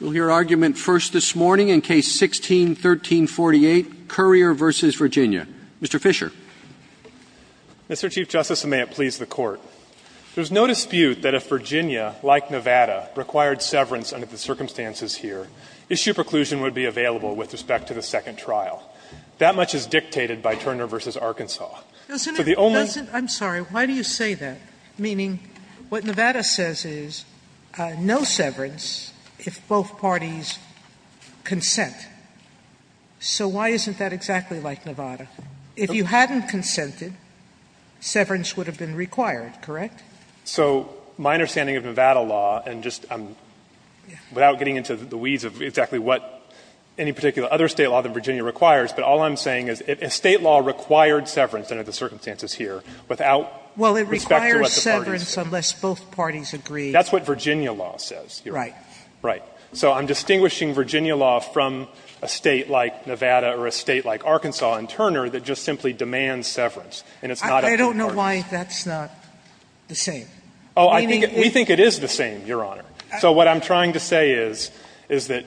Mr. Chief Justice, and may it please the Court, there is no dispute that if Virginia, like Nevada, required severance under the circumstances here, issue preclusion would be available with respect to the second trial. That much is dictated by Turner v. Arkansas. Sotomayor, I'm sorry, why do you say that? Meaning, what Nevada says is, no severance if both parties consent. So why isn't that exactly like Nevada? If you hadn't consented, severance would have been required, correct? So my understanding of Nevada law, and just without getting into the weeds of exactly what any particular other State law than Virginia requires, but all I'm saying is, if a State law required severance under the circumstances here without respect to what the parties agree. Sotomayor, well, it requires severance unless both parties agree. That's what Virginia law says, Your Honor. Right. Right. So I'm distinguishing Virginia law from a State like Nevada or a State like Arkansas and Turner that just simply demands severance, and it's not up to the parties. I don't know why that's not the same. Oh, we think it is the same, Your Honor. So what I'm trying to say is, is that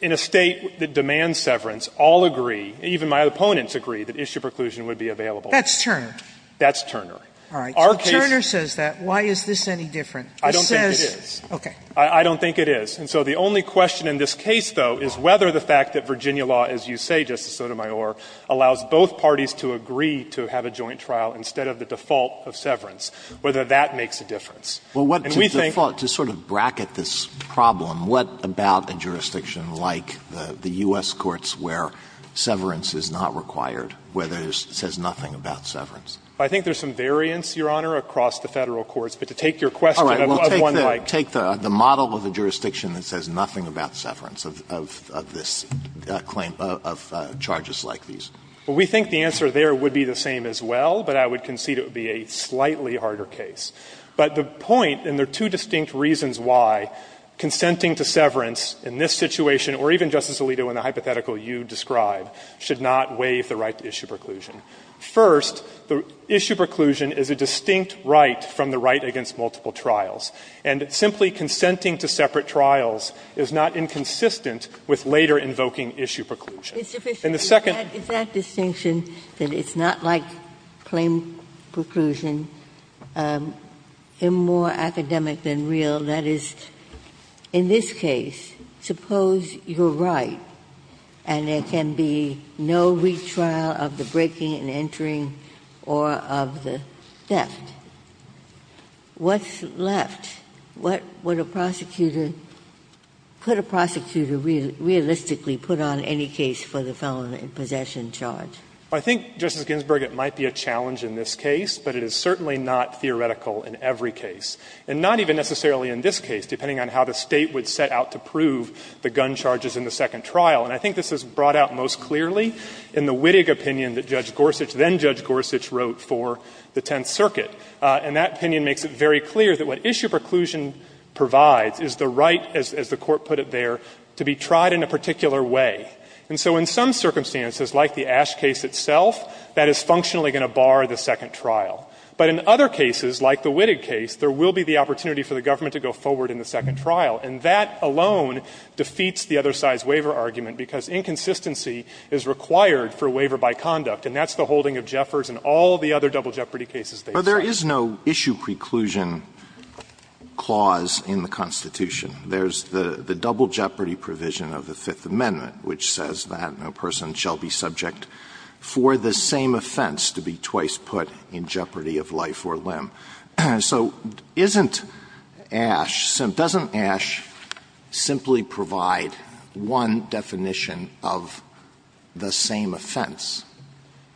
in a State that demands severance, all agree and even my opponents agree that issue preclusion would be available. That's Turner. That's Turner. All right. So Turner says that. Why is this any different? It says. I don't think it is. Okay. I don't think it is. And so the only question in this case, though, is whether the fact that Virginia law, as you say, Justice Sotomayor, allows both parties to agree to have a joint trial instead of the default of severance, whether that makes a difference. And we think. Well, to sort of bracket this problem, what about a jurisdiction like the U.S. courts where severance is not required, where there says nothing about severance? I think there's some variance, Your Honor, across the Federal courts. But to take your question of one like. All right. Well, take the model of a jurisdiction that says nothing about severance of this claim, of charges like these. Well, we think the answer there would be the same as well, but I would concede it would be a slightly harder case. But the point, and there are two distinct reasons why, consenting to severance in this situation, or even, Justice Alito, in the hypothetical you describe, should not waive the right to issue preclusion. First, the issue preclusion is a distinct right from the right against multiple trials. And simply consenting to separate trials is not inconsistent with later invoking issue preclusion. And the second. Ginsburg. Is that distinction that it's not like claim preclusion, more academic than real, that is, in this case, suppose you're right and there can be no retrial of the breaking and entering or of the theft. What's left? What would a prosecutor, could a prosecutor realistically put on any case for the felon in possession charge? I think, Justice Ginsburg, it might be a challenge in this case, but it is certainly not theoretical in every case. And not even necessarily in this case, depending on how the State would set out to prove the gun charges in the second trial. And I think this is brought out most clearly in the Wittig opinion that Judge Gorsuch, then Judge Gorsuch, wrote for the Tenth Circuit. And that opinion makes it very clear that what issue preclusion provides is the right, as the Court put it there, to be tried in a particular way. And so in some circumstances, like the Ash case itself, that is functionally going to bar the second trial. But in other cases, like the Wittig case, there will be the opportunity for the government to go forward in the second trial. And that alone defeats the other side's waiver argument, because inconsistency is required for waiver by conduct. And that's the holding of Jeffers and all the other double jeopardy cases they cite. Alito, but there is no issue preclusion clause in the Constitution. There's the double jeopardy provision of the Fifth Amendment, which says that no person shall be subject for the same offense to be twice put in jeopardy of life or limb. So isn't Ash so doesn't Ash simply provide one definition of the same offense?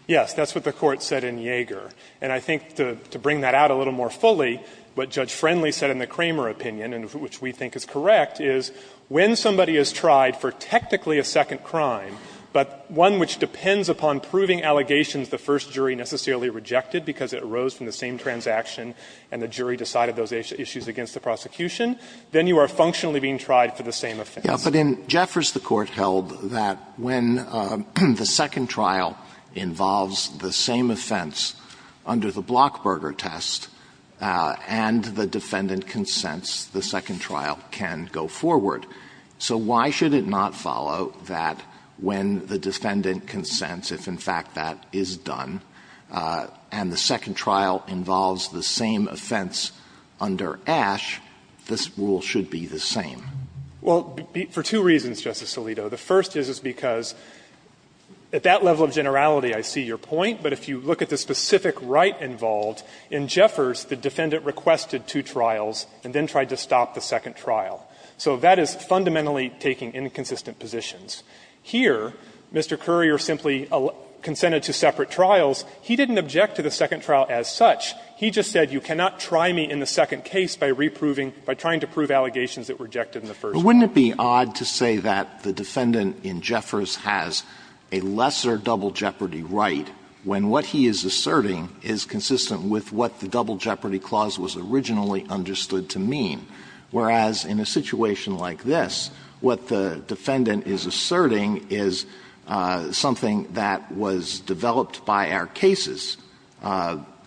Yes. That's what the Court said in Yeager. And I think to bring that out a little more fully, what Judge Friendly said in the Kramer opinion, and which we think is correct, is when somebody is tried for technically a second crime, but one which depends upon proving allegations the first jury necessarily rejected because it arose from the same transaction and the jury decided those issues against the prosecution, then you are functionally being tried for the same offense. But in Jeffers, the Court held that when the second trial involves the same offense under the Blockburger test and the defendant consents, the second trial can go forward. So why should it not follow that when the defendant consents, if in fact that is done, and the second trial involves the same offense under Ash, this rule should be the same? Well, for two reasons, Justice Alito. The first is because at that level of generality, I see your point, but if you look at the specific right involved, in Jeffers, the defendant requested two trials and then tried to stop the second trial. So that is fundamentally taking inconsistent positions. Here, Mr. Currier simply consented to separate trials. He didn't object to the second trial as such. He just said you cannot try me in the second case by reproving, by trying to prove allegations that were rejected in the first trial. Alito, but wouldn't it be odd to say that the defendant in Jeffers has a lesser double jeopardy right when what he is asserting is consistent with what the double jeopardy clause was originally understood to mean? Whereas, in a situation like this, what the defendant is asserting is something that was developed by our cases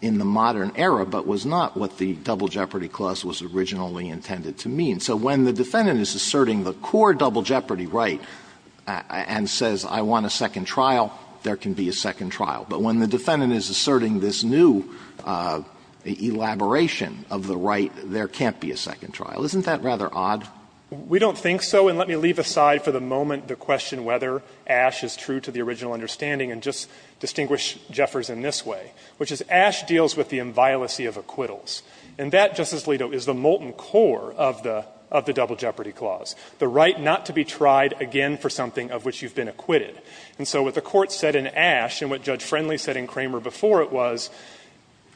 in the modern era, but was not what the double jeopardy clause was originally intended to mean. So when the defendant is asserting the core double jeopardy right and says I want a second trial, there can be a second trial. But when the defendant is asserting this new elaboration of the right, there can't be a second trial. Isn't that rather odd? We don't think so, and let me leave aside for the moment the question whether Ash is true to the original understanding and just distinguish Jeffers in this way, which is Ash deals with the inviolacy of acquittals. And that, Justice Alito, is the molten core of the double jeopardy clause, the right not to be tried again for something of which you have been acquitted. And so what the Court said in Ash and what Judge Friendly said in Kramer before it was,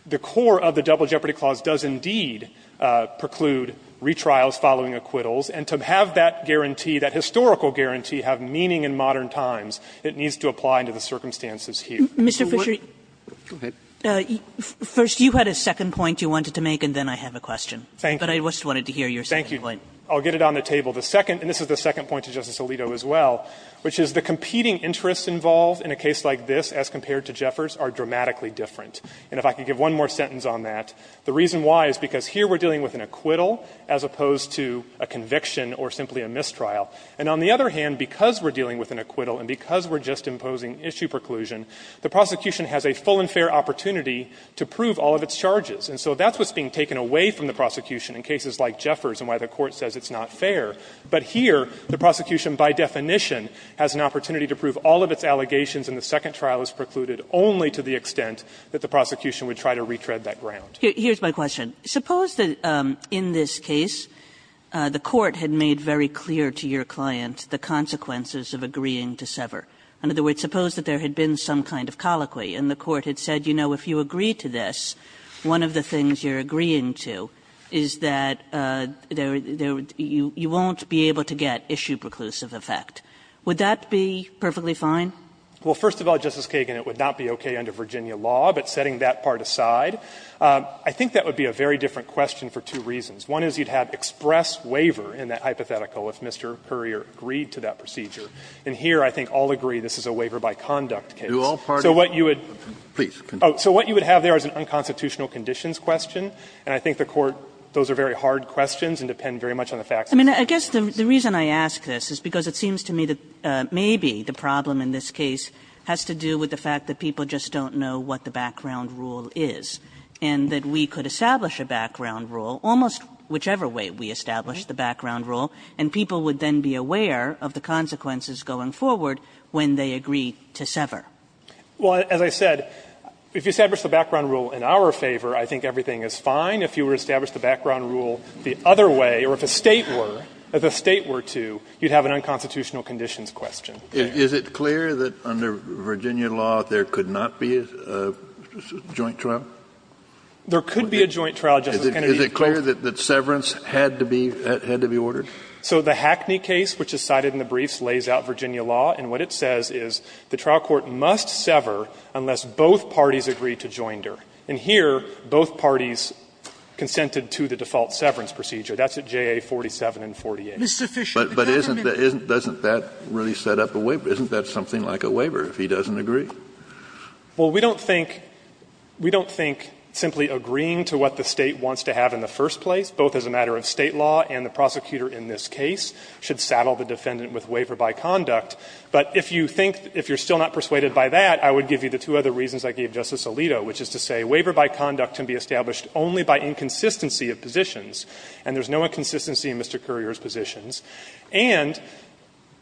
the core of the double jeopardy clause does indeed preclude retrials following acquittals, and to have that guarantee, that historical guarantee, have meaning in modern times, it needs to apply to the circumstances here. Kagan. Kagan. First, you had a second point you wanted to make, and then I have a question. Fisher. But I just wanted to hear your second point. Fisher. I'll get it on the table. The second, and this is the second point to Justice Alito as well, which is the competing interests involved in a case like this as compared to Jeffers are dramatically different. And if I could give one more sentence on that, the reason why is because here we are dealing with an acquittal as opposed to a conviction or simply a mistrial. And on the other hand, because we are dealing with an acquittal and because we are just imposing issue preclusion, the prosecution has a full and fair opportunity to prove all of its charges. And so that's what's being taken away from the prosecution in cases like Jeffers and why the Court says it's not fair. But here, the prosecution by definition has an opportunity to prove all of its allegations and the second trial is precluded only to the extent that the prosecution would try to retread that ground. Kagan. Here's my question. Suppose that in this case the Court had made very clear to your client the consequences of agreeing to sever. In other words, suppose that there had been some kind of colloquy and the Court had said, you know, if you agree to this, one of the things you're agreeing to is that you won't be able to get issue preclusive effect. Would that be perfectly fine? Well, first of all, Justice Kagan, it would not be okay under Virginia law, but setting that part aside. I think that would be a very different question for two reasons. One is you'd have express waiver in that hypothetical if Mr. Currier agreed to that procedure. And here, I think all agree this is a waiver by conduct case. So what you would have there is an unconstitutional conditions question, and I think the Court, those are very hard questions and depend very much on the facts. I mean, I guess the reason I ask this is because it seems to me that maybe the problem in this case has to do with the fact that people just don't know what the background rule is, and that we could establish a background rule almost whichever way we establish the background rule, and people would then be aware of the consequences going forward when they agree to sever. Well, as I said, if you establish the background rule in our favor, I think everything is fine. If you were to establish the background rule the other way, or if a State were, if a State were to, you'd have an unconstitutional conditions question. Kennedy, is it clear that under Virginia law, there could not be a joint trial? There could be a joint trial, Justice Kennedy. Is it clear that severance had to be ordered? So the Hackney case, which is cited in the briefs, lays out Virginia law, and what it says is the trial court must sever unless both parties agree to joinder. And here, both parties consented to the default severance procedure. That's at JA 47 and 48. But isn't that really set up a waiver? Isn't that something like a waiver if he doesn't agree? Well, we don't think, we don't think simply agreeing to what the State wants to have in the first place, both as a matter of State law and the prosecutor in this case, should saddle the defendant with waiver by conduct. But if you think, if you're still not persuaded by that, I would give you the two other reasons I gave Justice Alito, which is to say waiver by conduct can be established only by inconsistency of positions, and there's no inconsistency in Mr. Currier's positions. And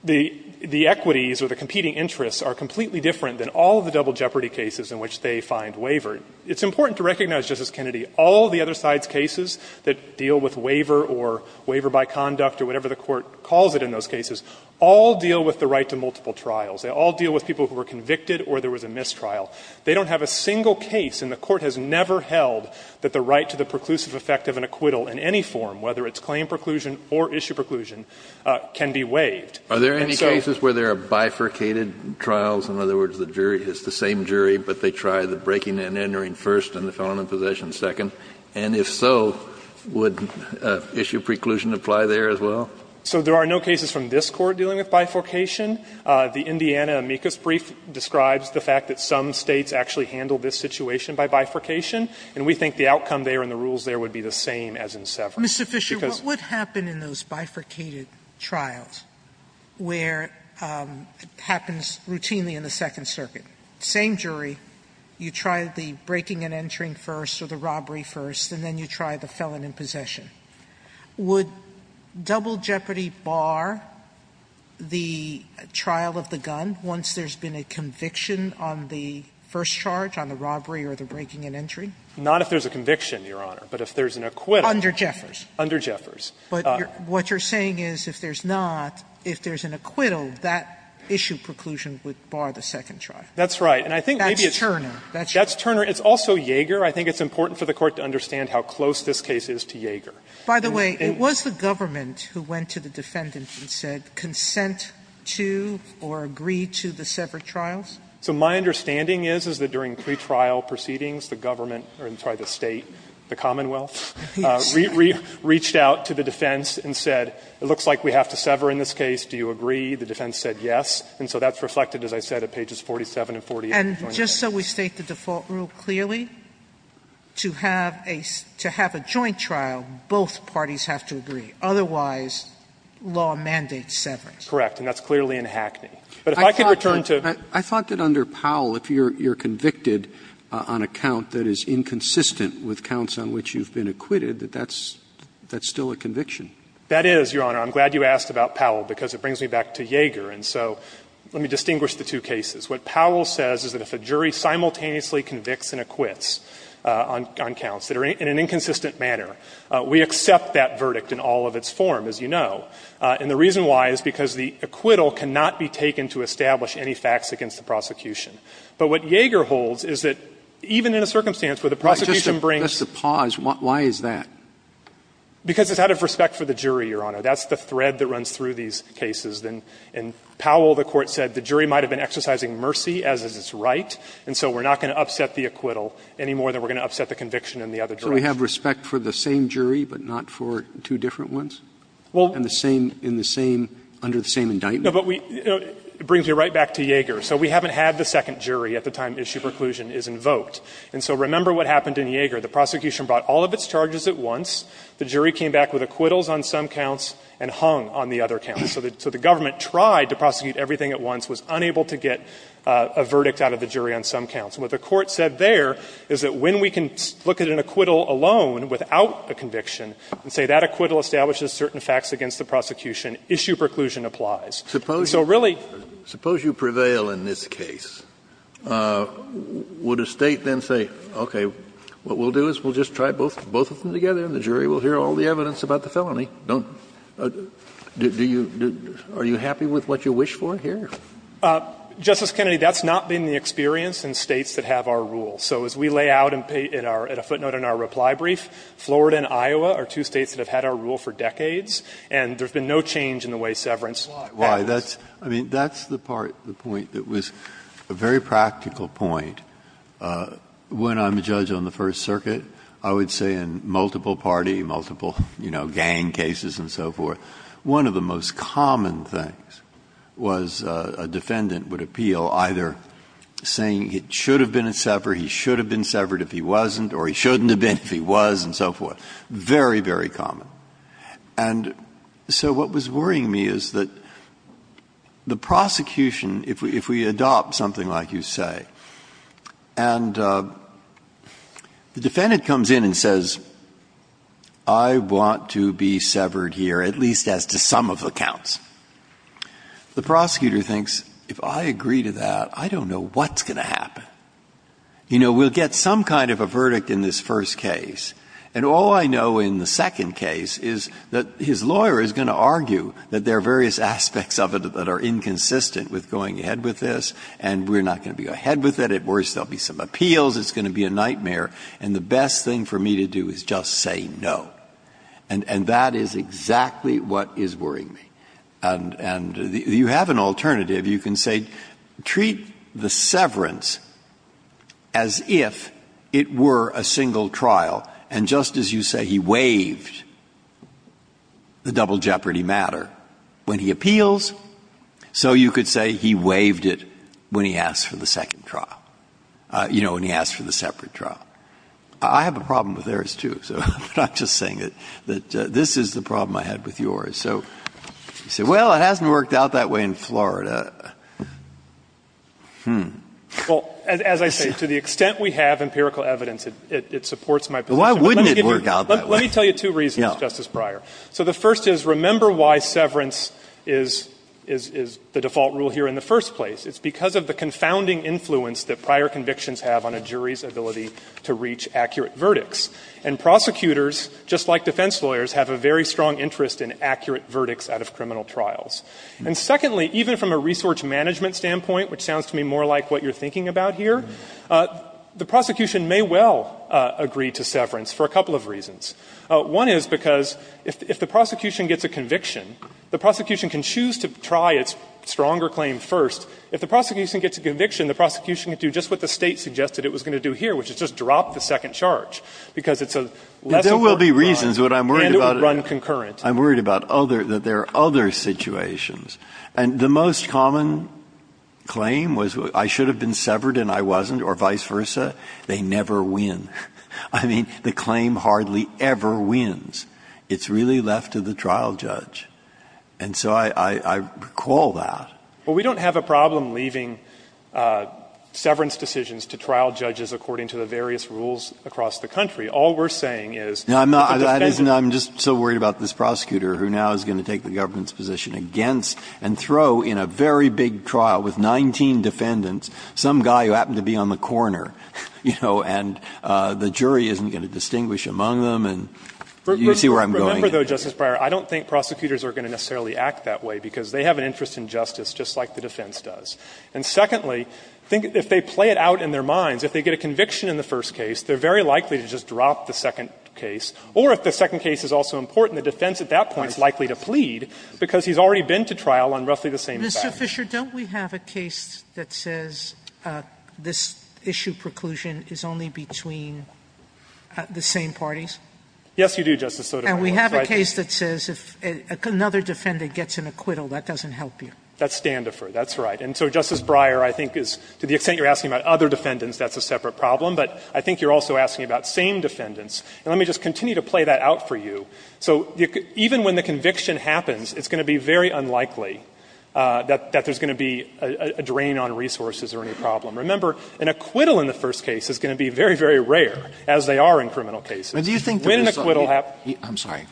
the equities or the competing interests are completely different than all of the double jeopardy cases in which they find waiver. It's important to recognize, Justice Kennedy, all the other sides' cases that deal with waiver or waiver by conduct or whatever the Court calls it in those cases, all deal with the right to multiple trials. They all deal with people who were convicted or there was a mistrial. They don't have a single case, and the Court has never held, that the right to the preclusive effect of an acquittal in any form, whether it's claim preclusion or issue preclusion, can be waived. And so there are no cases where there are bifurcated trials, in other words, the jury is the same jury, but they try the breaking and entering first and the felon in possession second. And if so, would issue preclusion apply there as well? So there are no cases from this Court dealing with bifurcation. The Indiana amicus brief describes the fact that some States actually handle this situation by bifurcation, and we think the outcome there and the rules there would be the same as in Severance. Sotomayor, what would happen in those bifurcated trials where it happens routinely in the Second Circuit? Same jury, you try the breaking and entering first or the robbery first, and then you try the felon in possession. Would double jeopardy bar the trial of the gun once there's been a conviction on the first charge, on the robbery or the breaking and entering? Not if there's a conviction, Your Honor, but if there's an acquittal. Under Jeffers. Under Jeffers. But what you're saying is if there's not, if there's an acquittal, that issue preclusion would bar the second trial. That's right. And I think maybe it's. That's Turner. That's Turner. It's also Yeager. I think it's important for the Court to understand how close this case is to Yeager. By the way, it was the government who went to the defendant and said, consent to or agree to the severed trials? So my understanding is, is that during pretrial proceedings, the government or, I'm sorry, the State, the Commonwealth, reached out to the defense and said, it looks like we have to sever in this case. Do you agree? The defense said yes. And so that's reflected, as I said, at pages 47 and 48. And just so we state the default rule clearly? To have a joint trial, both parties have to agree. Otherwise, law mandates severing. Correct. And that's clearly in Hackney. But if I could return to. I thought that under Powell, if you're convicted on a count that is inconsistent with counts on which you've been acquitted, that that's still a conviction. That is, Your Honor. I'm glad you asked about Powell, because it brings me back to Yeager. And so let me distinguish the two cases. What Powell says is that if a jury simultaneously convicts and acquits on counts that are in an inconsistent manner, we accept that verdict in all of its form, as you know. And the reason why is because the acquittal cannot be taken to establish any facts against the prosecution. But what Yeager holds is that even in a circumstance where the prosecution brings. Just to pause, why is that? Because it's out of respect for the jury, Your Honor. That's the thread that runs through these cases. And Powell, the Court said, the jury might have been exercising mercy, as is its right. And so we're not going to upset the acquittal any more than we're going to upset the conviction in the other jury. Roberts. So we have respect for the same jury, but not for two different ones? And the same under the same indictment? No, but it brings me right back to Yeager. So we haven't had the second jury at the time issue preclusion is invoked. And so remember what happened in Yeager. The prosecution brought all of its charges at once. The jury came back with acquittals on some counts and hung on the other counts. So the government tried to prosecute everything at once, was unable to get a verdict out of the jury on some counts. And what the Court said there is that when we can look at an acquittal alone without a conviction and say that acquittal establishes certain facts against the prosecution, issue preclusion applies. So really — Suppose you prevail in this case. Would a State then say, okay, what we'll do is we'll just try both of them together and the jury will hear all the evidence about the felony? Don't — do you — are you happy with what you wish for here? Justice Kennedy, that's not been the experience in States that have our rule. So as we lay out in our — at a footnote in our reply brief, Florida and Iowa are two States that have had our rule for decades, and there's been no change in the way severance happens. Why? That's — I mean, that's the part, the point that was a very practical point. When I'm a judge on the First Circuit, I would say in multiple party, multiple, you know, gang cases and so forth, one of the most common things was a defendant would appeal either saying it should have been a sever, he should have been severed if he wasn't, or he shouldn't have been if he was and so forth. Very, very common. And so what was worrying me is that the prosecution, if we adopt something like you want to be severed here, at least as to some of the counts, the prosecutor thinks, if I agree to that, I don't know what's going to happen. You know, we'll get some kind of a verdict in this first case, and all I know in the second case is that his lawyer is going to argue that there are various aspects of it that are inconsistent with going ahead with this, and we're not going to be ahead with it. At worst, there will be some appeals. It's going to be a nightmare. And the best thing for me to do is just say no. And that is exactly what is worrying me. And you have an alternative. You can say treat the severance as if it were a single trial, and just as you say he waived the double jeopardy matter when he appeals, so you could say he waived it when he asked for the second trial, you know, when he asked for the separate trial. I have a problem with theirs, too, but I'm just saying that this is the problem I had with yours. So you say, well, it hasn't worked out that way in Florida. Hmm. Fisherman. Well, as I say, to the extent we have empirical evidence, it supports my position. Why wouldn't it work out that way? Let me tell you two reasons, Justice Breyer. So the first is, remember why severance is the default rule here in the first place. It's because of the confounding influence that prior convictions have on a jury's ability to reach accurate verdicts. And prosecutors, just like defense lawyers, have a very strong interest in accurate verdicts out of criminal trials. And secondly, even from a resource management standpoint, which sounds to me more like what you're thinking about here, the prosecution may well agree to severance for a couple of reasons. One is because if the prosecution gets a conviction, the prosecution can choose to try its stronger claim first. If the prosecution gets a conviction, the prosecution can do just what the State suggested it was going to do here, which is just drop the second charge, because it's a less important crime and it would run concurrent. I'm worried about other, that there are other situations. And the most common claim was, I should have been severed and I wasn't, or vice versa. They never win. I mean, the claim hardly ever wins. It's really left to the trial judge. And so I recall that. Well, we don't have a problem leaving severance decisions to trial judges according to the various rules across the country. All we're saying is that the defense is going to take the government's position against and throw in a very big trial with 19 defendants, some guy who happened to be on the corner, you know, and the jury isn't going to distinguish among them and you see where I'm going. Remember, though, Justice Breyer, I don't think prosecutors are going to necessarily act that way, because they have an interest in justice just like the defense does. And secondly, if they play it out in their minds, if they get a conviction in the first case, they're very likely to just drop the second case, or if the second case is also important, the defense at that point is likely to plead, because he's already been to trial on roughly the same evidence. Sotomayor, don't we have a case that says this issue preclusion is only between the same parties? Yes, you do, Justice Sotomayor. And we have a case that says if another defendant gets an acquittal, that doesn't help you. That's Standifer, that's right. And so, Justice Breyer, I think is, to the extent you're asking about other defendants, that's a separate problem. But I think you're also asking about same defendants. And let me just continue to play that out for you. So even when the conviction happens, it's going to be very unlikely that there's going to be a drain on resources or any problem. Remember, an acquittal in the first case is going to be very, very rare, as they are in criminal cases. When an acquittal happens. I'm sorry.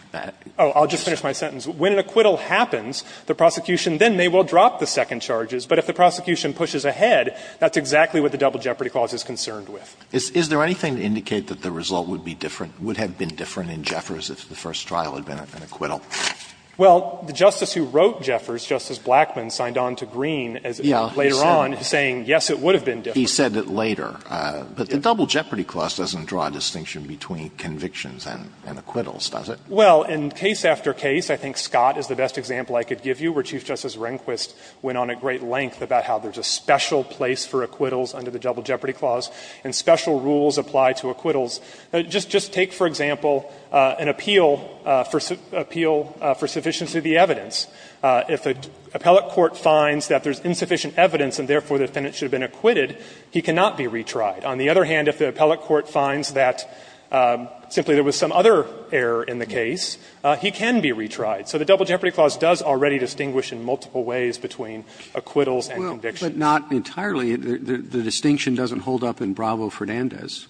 Oh, I'll just finish my sentence. When an acquittal happens, the prosecution then may well drop the second charges. But if the prosecution pushes ahead, that's exactly what the double jeopardy clause is concerned with. Is there anything to indicate that the result would be different, would have been different in Jeffers if the first trial had been an acquittal? Well, the Justice who wrote Jeffers, Justice Blackmun, signed on to Green as it was later on, saying, yes, it would have been different. He said it later. But the double jeopardy clause doesn't draw a distinction between convictions and acquittals, does it? Well, in case after case, I think Scott is the best example I could give you, where Chief Justice Rehnquist went on at great length about how there's a special place for acquittals under the double jeopardy clause, and special rules apply to acquittals. Just take, for example, an appeal for sufficiency of the evidence. If an appellate court finds that there's insufficient evidence and therefore the defendant should have been acquitted, he cannot be retried. On the other hand, if the appellate court finds that simply there was some other error in the case, he can be retried. So the double jeopardy clause does already distinguish in multiple ways between acquittals and convictions. Well, but not entirely. The distinction doesn't hold up in Bravo-Fernandez.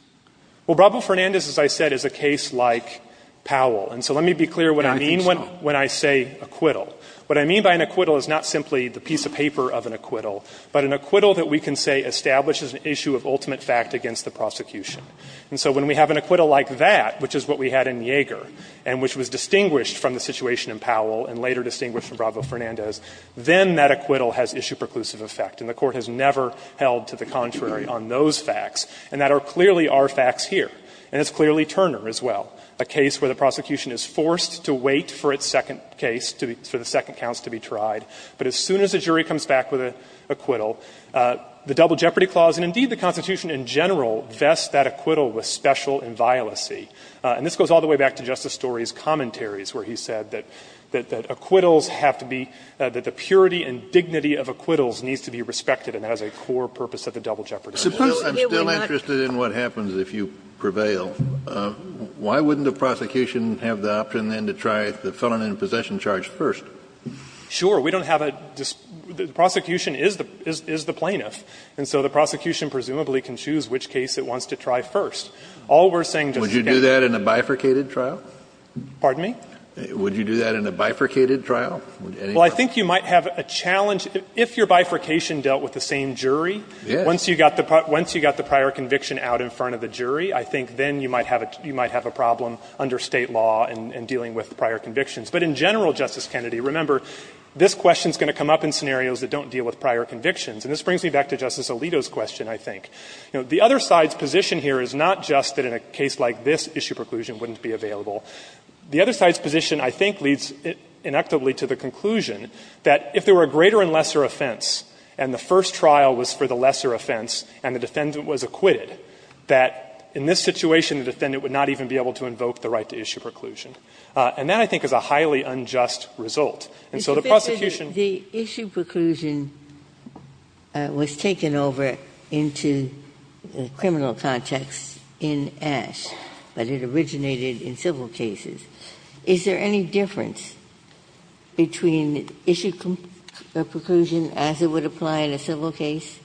Well, Bravo-Fernandez, as I said, is a case like Powell. And so let me be clear what I mean when I say acquittal. What I mean by an acquittal is not simply the piece of paper of an acquittal, but an acquittal that we can say establishes an issue of ultimate fact against the prosecution. And so when we have an acquittal like that, which is what we had in Yeager, and which was distinguished from the situation in Powell and later distinguished from Bravo-Fernandez, then that acquittal has issue preclusive effect. And the Court has never held to the contrary on those facts. And that are clearly our facts here. And it's clearly Turner as well, a case where the prosecution is forced to wait for its second case, for the second counts to be tried. But as soon as a jury comes back with an acquittal, the Double Jeopardy Clause, and indeed the Constitution in general, vests that acquittal with special inviolacy. And this goes all the way back to Justice Story's commentaries where he said that acquittals have to be the purity and dignity of acquittals needs to be respected, and that is a core purpose of the Double Jeopardy Clause. Kennedy, I'm still interested in what happens if you prevail. Why wouldn't a prosecution have the option then to try the felon in possession charge first? Sure. We don't have a – the prosecution is the plaintiff. And so the prosecution presumably can choose which case it wants to try first. All we're saying, Justice Kennedy – Would you do that in a bifurcated trial? Pardon me? Would you do that in a bifurcated trial? Well, I think you might have a challenge – if your bifurcation dealt with the same jury, once you got the prior conviction out in front of the jury, I think then you might have a problem under State law in dealing with prior convictions. But in general, Justice Kennedy, remember, this question is going to come up in scenarios that don't deal with prior convictions. And this brings me back to Justice Alito's question, I think. The other side's position here is not just that in a case like this, issue preclusion wouldn't be available. The other side's position, I think, leads inactively to the conclusion that if there were a greater and lesser offense and the first trial was for the lesser offense and the defendant was acquitted, that in this situation the defendant would not even be able to invoke the right to issue preclusion. And that, I think, is a highly unjust result. And so the prosecution – Ginsburg, the issue preclusion was taken over into the criminal context in Ashe, but it originated in civil cases. Is there any difference between issue preclusion as it would apply in a civil case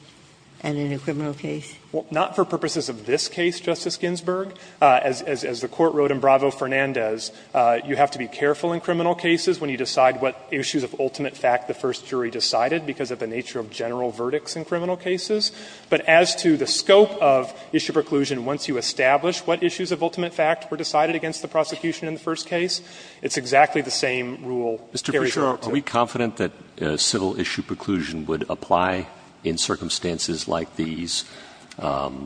and in a criminal case? Well, not for purposes of this case, Justice Ginsburg. As the Court wrote in Bravo Fernandez, you have to be careful in criminal cases when you decide what issues of ultimate fact the first jury decided because of the nature of general verdicts in criminal cases. But as to the scope of issue preclusion, once you establish what issues of ultimate fact were decided against the prosecution in the first case, it's exactly the same rule carried out. Mr. Pritchard, are we confident that civil issue preclusion would apply in circumstances like these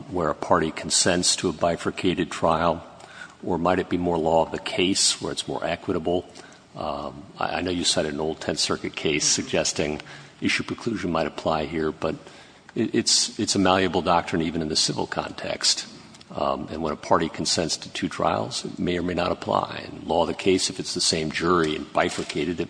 where a party consents to a bifurcated trial, or might it be more law of the case where it's more equitable? I know you cited an old Tenth Circuit case suggesting issue preclusion might apply here, but it's a malleable doctrine even in the civil context. And when a party consents to two trials, it may or may not apply. In law of the case, if it's the same jury and bifurcated, it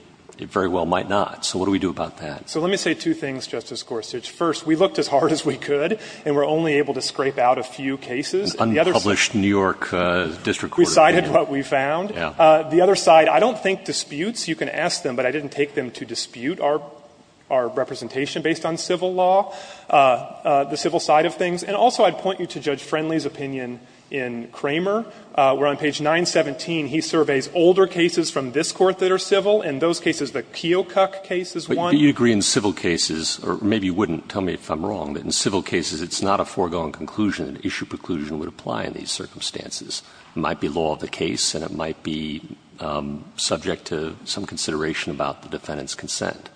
very well might not. So what do we do about that? So let me say two things, Justice Gorsuch. First, we looked as hard as we could, and we're only able to scrape out a few cases. And the other side we cited what we found. The other side, I don't think disputes, you can ask them, but I didn't take them to dispute our representation based on civil law, the civil side of things. And also, I'd point you to Judge Friendly's opinion in Kramer, where on page 917, he surveys older cases from this Court that are civil. In those cases, the Keokuk case is one. But you agree in civil cases, or maybe you wouldn't, tell me if I'm wrong, but in civil cases, it's not a foregone conclusion that issue preclusion would apply in these circumstances. It might be law of the case, and it might be subject to some consideration about the defendant's consent.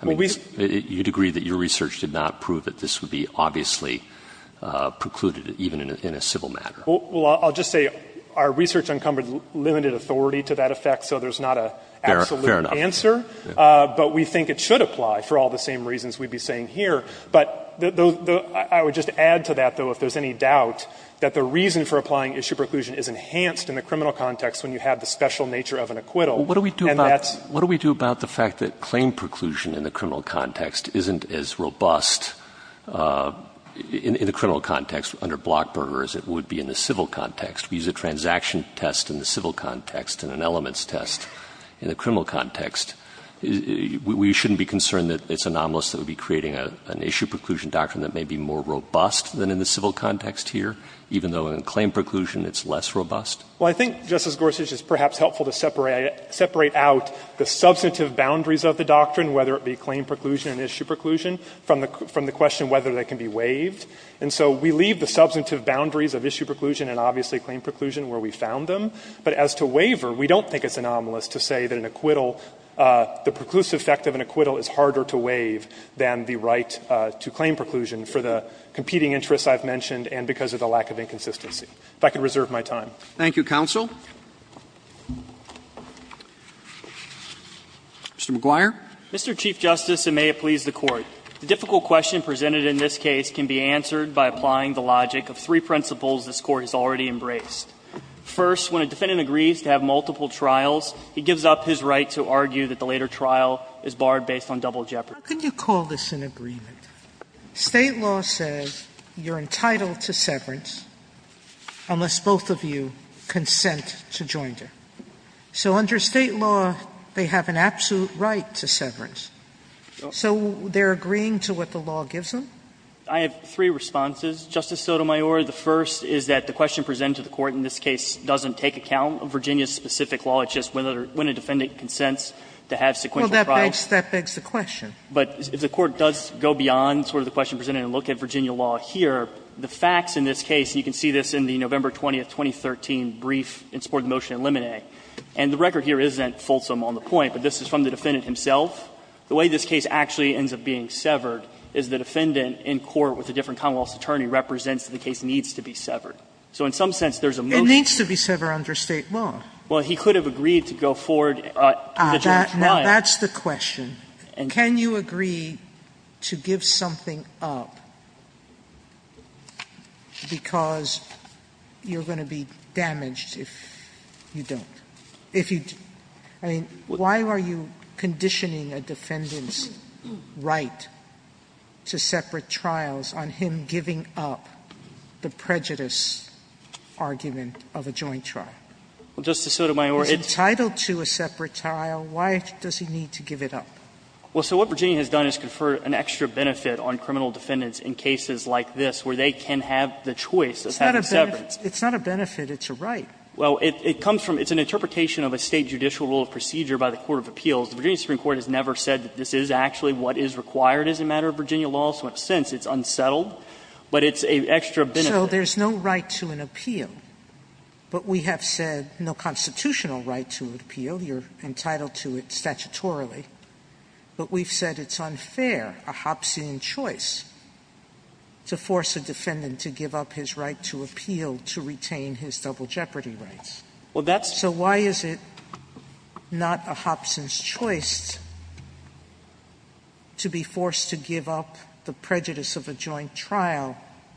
I mean, you'd agree that your research did not prove that this would be obviously precluded, even in a civil matter. Well, I'll just say our research encumbered limited authority to that effect, so there's not an absolute answer. Fair enough. But we think it should apply for all the same reasons we'd be saying here. But I would just add to that, though, if there's any doubt, that the reason for applying issue preclusion is enhanced in the criminal context when you have the special nature of an acquittal. And that's the reason why it's not a foregone conclusion. What do we do about the fact that claim preclusion in the criminal context isn't as robust in the criminal context under Blockburger as it would be in the civil context? We use a transaction test in the civil context and an elements test in the criminal context. We shouldn't be concerned that it's anomalous that we'd be creating an issue preclusion doctrine that may be more robust than in the civil context here, even though in claim preclusion it's less robust? Well, I think, Justice Gorsuch, it's perhaps helpful to separate out the substantive boundaries of the doctrine, whether it be claim preclusion and issue preclusion, from the question whether they can be waived. And so we leave the substantive boundaries of issue preclusion and obviously claim preclusion where we found them. But as to waiver, we don't think it's anomalous to say that an acquittal, the preclusive effect of an acquittal is harder to waive than the right to claim preclusion for the competing interests I've mentioned and because of the lack of inconsistency. If I could reserve my time. Roberts. Thank you, counsel. Mr. McGuire. Mr. Chief Justice, and may it please the Court. The difficult question presented in this case can be answered by applying the logic of three principles this Court has already embraced. First, when a defendant agrees to have multiple trials, he gives up his right to argue that the later trial is barred based on double jeopardy. Sotomayor, how can you call this an agreement? State law says you're entitled to severance unless both of you consent to join them. So under State law, they have an absolute right to severance. So they're agreeing to what the law gives them? I have three responses, Justice Sotomayor. The first is that the question presented to the Court in this case doesn't take account of Virginia's specific law. It's just when a defendant consents to have sequential trials. Sotomayor, that begs the question. But if the Court does go beyond sort of the question presented and look at Virginia law here, the facts in this case, and you can see this in the November 20, 2013, brief in support of the motion in Limine. And the record here isn't fulsome on the point, but this is from the defendant himself. The way this case actually ends up being severed is the defendant in court with a different Commonwealth's attorney represents that the case needs to be severed. So in some sense, there's a motion to sever under State law. Well, he could have agreed to go forward to the joint trial. Now, that's the question. Can you agree to give something up because you're going to be damaged if you don't? I mean, why are you conditioning a defendant's right to separate trials on him giving up the prejudice argument of a joint trial? Well, Justice Sotomayor, it's entitled to a separate trial. Why does he need to give it up? Well, so what Virginia has done is conferred an extra benefit on criminal defendants in cases like this where they can have the choice of having separates. It's not a benefit, it's a right. Well, it comes from an interpretation of a State judicial rule of procedure by the court of appeals. The Virginia Supreme Court has never said that this is actually what is required as a matter of Virginia law. So in a sense, it's unsettled, but it's an extra benefit. So there's no right to an appeal, but we have said no constitutional right to an appeal. You're entitled to it statutorily. But we've said it's unfair, a Hobbesian choice, to force a defendant to give up his right to appeal to retain his double jeopardy rights. Well, that's So why is it not a Hobbesian choice to be forced to give up the prejudice of a joint trial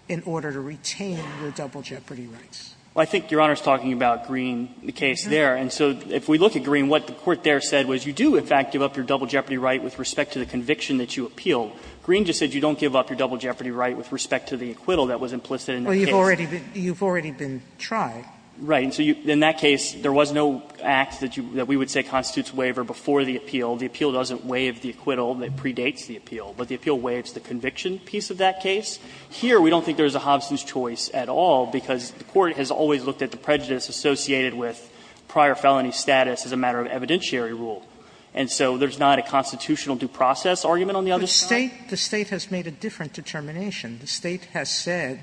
in order to retain your double jeopardy rights? Well, I think Your Honor is talking about Green, the case there. And so if we look at Green, what the court there said was you do, in fact, give up your double jeopardy right with respect to the conviction that you appealed. Green just said you don't give up your double jeopardy right with respect to the acquittal that was implicit in the case. Well, you've already been tried. Right. And so in that case, there was no act that we would say constitutes waiver before the appeal. The appeal doesn't waive the acquittal that predates the appeal, but the appeal waives the conviction piece of that case. Here, we don't think there's a Hobbesian choice at all, because the court has always looked at the prejudice associated with prior felony status as a matter of evidentiary rule. And so there's not a constitutional due process argument on the other side? The State has made a different determination. The State has said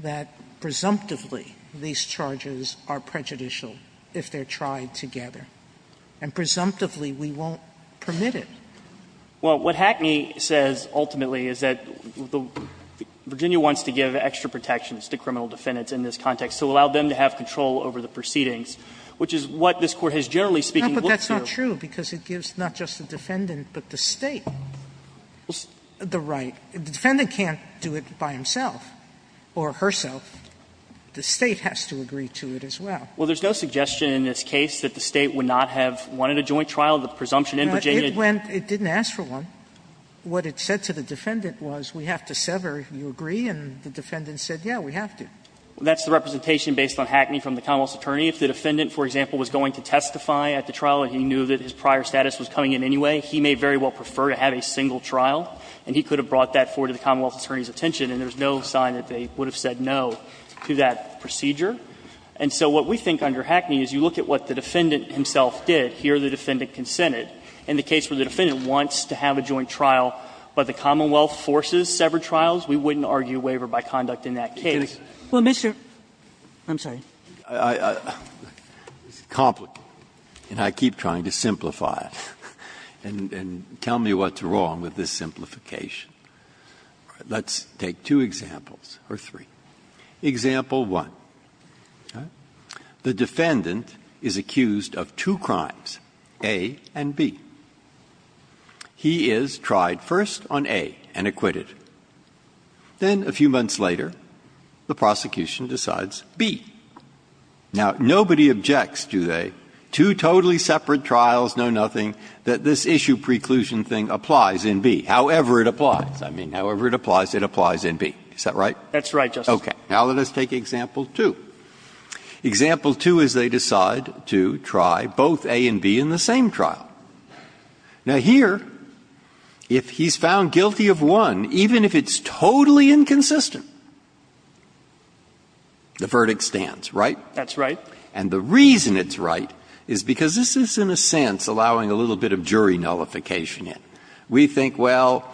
that presumptively these charges are prejudicial if they're tried together, and presumptively we won't permit it. Well, what Hackney says ultimately is that Virginia wants to give extra protections to criminal defendants in this context to allow them to have control over the proceedings, which is what this Court has generally speaking looked to. No, but that's not true, because it gives not just the defendant but the State the right. The defendant can't do it by himself or herself. The State has to agree to it as well. Well, there's no suggestion in this case that the State would not have wanted a joint trial. The presumption in Virginia didn't ask for one. What it said to the defendant was, we have to sever if you agree, and the defendant said, yes, we have to. That's the representation based on Hackney from the Commonwealth's attorney. If the defendant, for example, was going to testify at the trial and he knew that his prior status was coming in anyway, he may very well prefer to have a single trial, and he could have brought that forward to the Commonwealth attorney's attention, and there's no sign that they would have said no to that procedure. And so what we think under Hackney is you look at what the defendant himself did, hear the defendant consent it. In the case where the defendant wants to have a joint trial, but the Commonwealth forces severed trials, we wouldn't argue waiver by conduct in that case. Kagan. Well, Mr. ---- I'm sorry. It's complicated, and I keep trying to simplify it, and tell me what's wrong with this simplification. Let's take two examples, or three. Example one, the defendant is accused of two crimes, A and B. He is tried first on A and acquitted. Then, a few months later, the prosecution decides B. Now, nobody objects, do they? Two totally separate trials, no nothing, that this issue preclusion thing applies in B. However it applies. I mean, however it applies, it applies in B. Is that right? That's right, Justice. Okay. Now, let us take example two. Example two is they decide to try both A and B in the same trial. Now, here, if he's found guilty of one, even if it's totally inconsistent, the verdict stands, right? That's right. And the reason it's right is because this is, in a sense, allowing a little bit of jury nullification in. We think, well,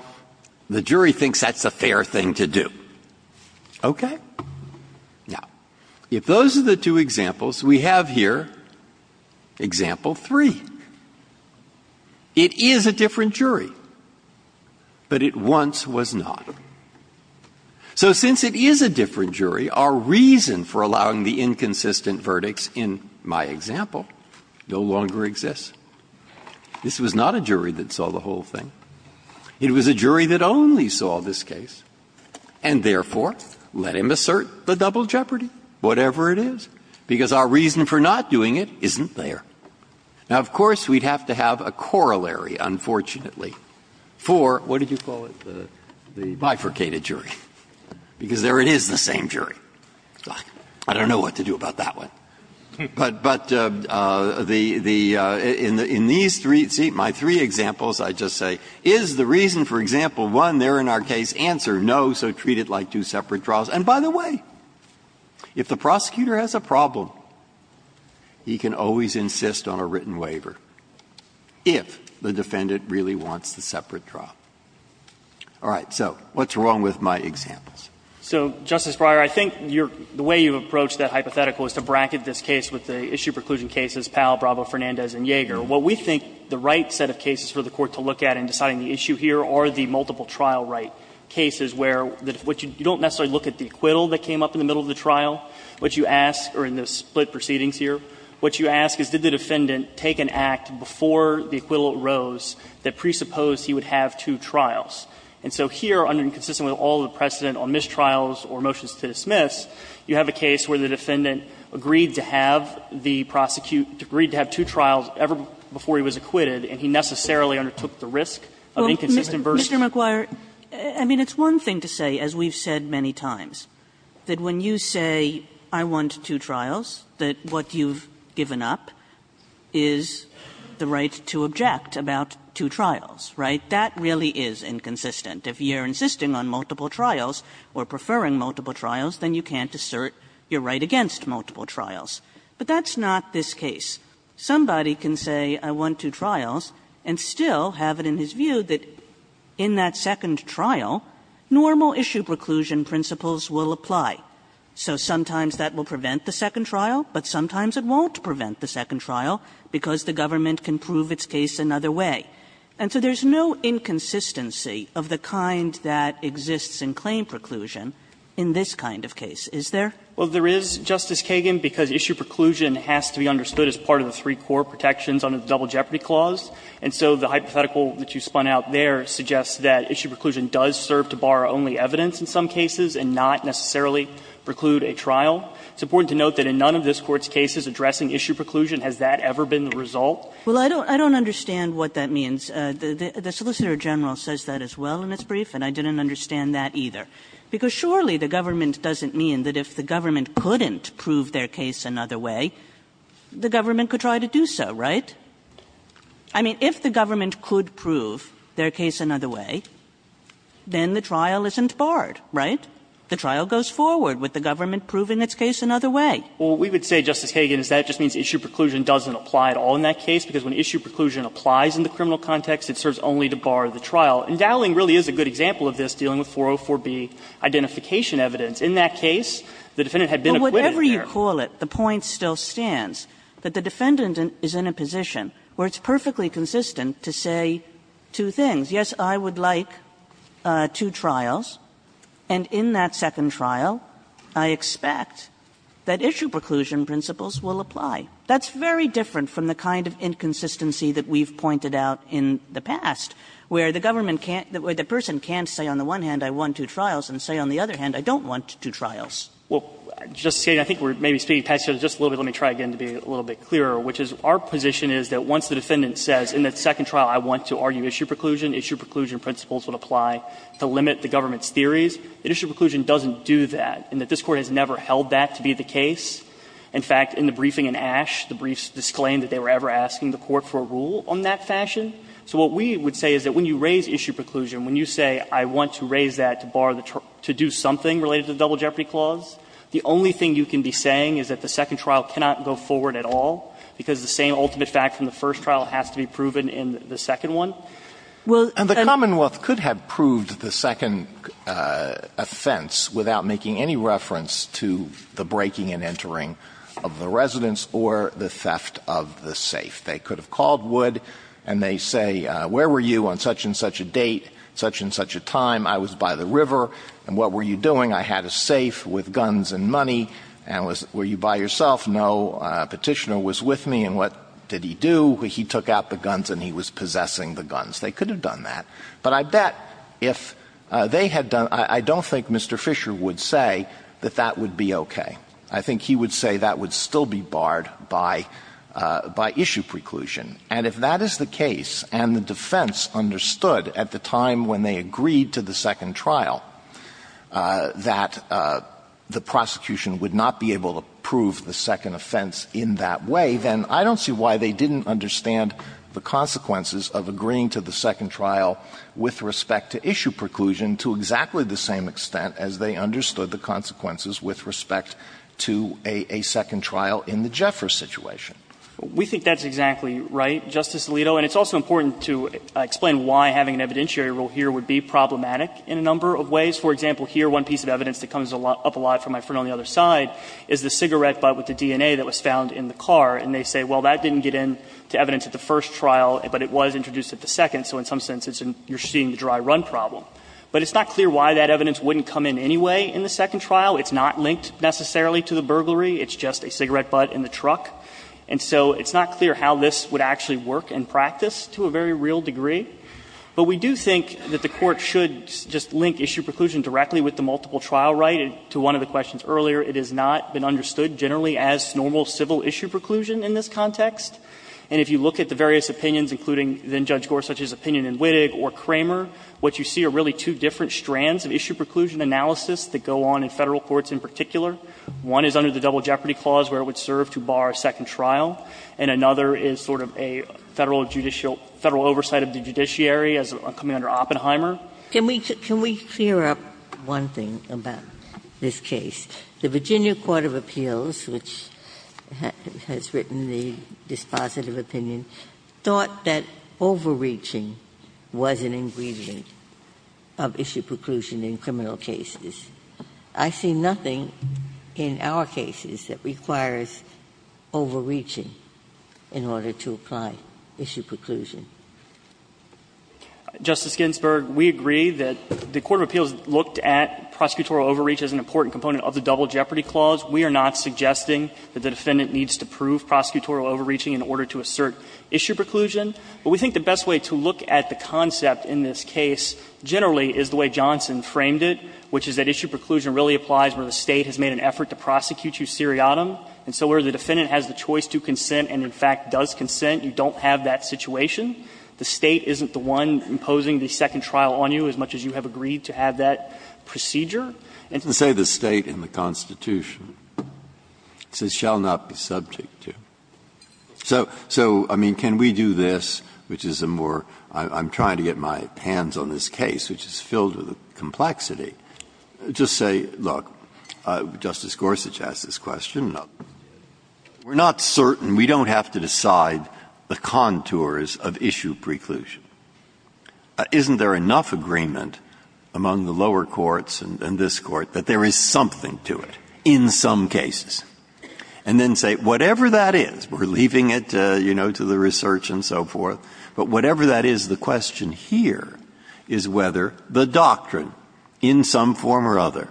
the jury thinks that's a fair thing to do. Okay? Now, if those are the two examples, we have here example three. It is a different jury, but it once was not. So since it is a different jury, our reason for allowing the inconsistent verdicts in my example no longer exists. This was not a jury that saw the whole thing. It was a jury that only saw this case, and therefore, let him assert the double jeopardy, whatever it is, because our reason for not doing it isn't there. Now, of course, we'd have to have a corollary, unfortunately, for what did you call it? The bifurcated jury, because there it is, the same jury. I don't know what to do about that one. But the the the in these three, see, my three examples, I just say, is the reason for example one there in our case answer no, so treat it like two separate draws. And by the way, if the prosecutor has a problem, he can always insist on a written waiver if the defendant really wants the separate trial. All right. So what's wrong with my examples? So, Justice Breyer, I think your the way you approach that hypothetical is to bracket this case with the issue preclusion cases, Powell, Bravo, Fernandez, and Yeager. What we think the right set of cases for the Court to look at in deciding the issue here are the multiple trial right cases where you don't necessarily look at the acquittal that came up in the middle of the trial, what you ask, or in the split proceedings here, what you ask is did the defendant take an act before the acquittal arose that presupposed he would have two trials. And so here, under and consistent with all the precedent on mistrials or motions to dismiss, you have a case where the defendant agreed to have the prosecute agreed to have two trials ever before he was acquitted, and he necessarily undertook the risk of inconsistent versus. Kagan. Sotomayor, I mean, it's one thing to say, as we've said many times, that when you say, I want two trials, that what you've given up is the right to object about two trials, right? That really is inconsistent. If you're insisting on multiple trials or preferring multiple trials, then you can't assert your right against multiple trials. But that's not this case. Somebody can say, I want two trials, and still have it in his view that in that second trial, normal issue preclusion principles will apply. So sometimes that will prevent the second trial, but sometimes it won't prevent the second trial because the government can prove its case another way. And so there's no inconsistency of the kind that exists in claim preclusion in this kind of case, is there? Well, there is, Justice Kagan, because issue preclusion has to be understood as part of the three core protections under the Double Jeopardy Clause. And so the hypothetical that you spun out there suggests that issue preclusion does serve to borrow only evidence in some cases and not necessarily preclude a trial. It's important to note that in none of this Court's cases addressing issue preclusion has that ever been the result. Well, I don't understand what that means. The Solicitor General says that as well in its brief, and I didn't understand that either. Because surely the government doesn't mean that if the government couldn't prove their case another way, the government could try to do so, right? I mean, if the government could prove their case another way, then the trial isn't barred, right? The trial goes forward with the government proving its case another way. Well, we would say, Justice Kagan, that just means issue preclusion doesn't apply at all in that case. Because when issue preclusion applies in the criminal context, it serves only to bar the trial. And Dowling really is a good example of this, dealing with 404B identification evidence. In that case, the defendant had been acquitted there. Kagan. Kagan. But whatever you call it, the point still stands that the defendant is in a position where it's perfectly consistent to say two things. Yes, I would like two trials, and in that second trial, I expect that issue preclusion principles will apply. That's very different from the kind of inconsistency that we've pointed out in the past, where the government can't – where the person can't say on the one hand, I want two trials, and say on the other hand, I don't want two trials. Well, Justice Kagan, I think we're maybe speaking past yourself just a little bit. Let me try again to be a little bit clearer, which is our position is that once the defendant says in that second trial I want to argue issue preclusion, issue preclusion principles would apply to limit the government's theories. Issue preclusion doesn't do that, and that this Court has never held that to be the case. In fact, in the briefing in Ashe, the briefs disclaimed that they were ever asking the Court for a rule on that fashion. So what we would say is that when you raise issue preclusion, when you say I want to raise that to bar the – to do something related to the Double Jeopardy Clause, the only thing you can be saying is that the second trial cannot go forward at all, because the same ultimate fact from the first trial has to be proven in the second one. Well, and the Commonwealth could have proved the second offense without making any reference to the breaking and entering of the residence or the theft of the safe. They could have called Wood and they say, where were you on such and such a date, such and such a time, I was by the river, and what were you doing? I had a safe with guns and money, and was – were you by yourself? No, a Petitioner was with me, and what did he do? He took out the guns and he was possessing the guns. They could have done that. But I bet if they had done – I don't think Mr. Fisher would say that that would be okay. I think he would say that would still be barred by – by issue preclusion. And if that is the case and the defense understood at the time when they agreed to the second trial that the prosecution would not be able to prove the second offense in that way, then I don't see why they didn't understand the consequences of agreeing to the second trial with respect to issue preclusion to exactly the same extent as they understood the consequences with respect to a second trial in the Jeffers situation. We think that's exactly right, Justice Alito. And it's also important to explain why having an evidentiary rule here would be problematic in a number of ways. For example, here one piece of evidence that comes up a lot from my friend on the other side is the cigarette butt with the DNA that was found in the car. And they say, well, that didn't get in to evidence at the first trial, but it was introduced at the second. So in some sense, you're seeing the dry run problem. But it's not clear why that evidence wouldn't come in anyway in the second trial. It's not linked necessarily to the burglary. It's just a cigarette butt in the truck. And so it's not clear how this would actually work in practice to a very real degree. But we do think that the Court should just link issue preclusion directly with the multiple trial right. To one of the questions earlier, it has not been understood generally as normal civil issue preclusion in this context. And if you look at the various opinions, including then Judge Gorsuch's opinion in Wittig or Kramer, what you see are really two different strands of issue preclusion analysis that go on in Federal courts in particular. One is under the Double Jeopardy Clause where it would serve to bar a second trial. And another is sort of a Federal judicial – Federal oversight of the judiciary as coming under Oppenheimer. Ginsburg. Ginsburg. Can we clear up one thing about this case? The Virginia Court of Appeals, which has written the dispositive opinion, thought that overreaching was an ingredient of issue preclusion in criminal cases. I see nothing in our cases that requires overreaching in order to apply issue preclusion. Justice Ginsburg, we agree that the Court of Appeals looked at prosecutorial overreach as an important component of the Double Jeopardy Clause. We are not suggesting that the defendant needs to prove prosecutorial overreaching in order to assert issue preclusion. But we think the best way to look at the concept in this case generally is the way Johnson framed it, which is that issue preclusion really applies where the State has made an effort to prosecute you seriatim. And so where the defendant has the choice to consent and, in fact, does consent, you don't have that situation. The State isn't the one imposing the second trial on you, as much as you have agreed to have that procedure. And to say the State and the Constitution, it says, shall not be subject to. So, I mean, can we do this, which is a more – I'm trying to get my hands on this case, which is filled with complexity. Just say, look, Justice Gorsuch asked this question. We're not certain, we don't have to decide the contours of issue preclusion. Isn't there enough agreement among the lower courts and this Court that there is something to it in some cases? And then say, whatever that is, we're leaving it, you know, to the research and so forth. But whatever that is, the question here is whether the doctrine, in some form or other,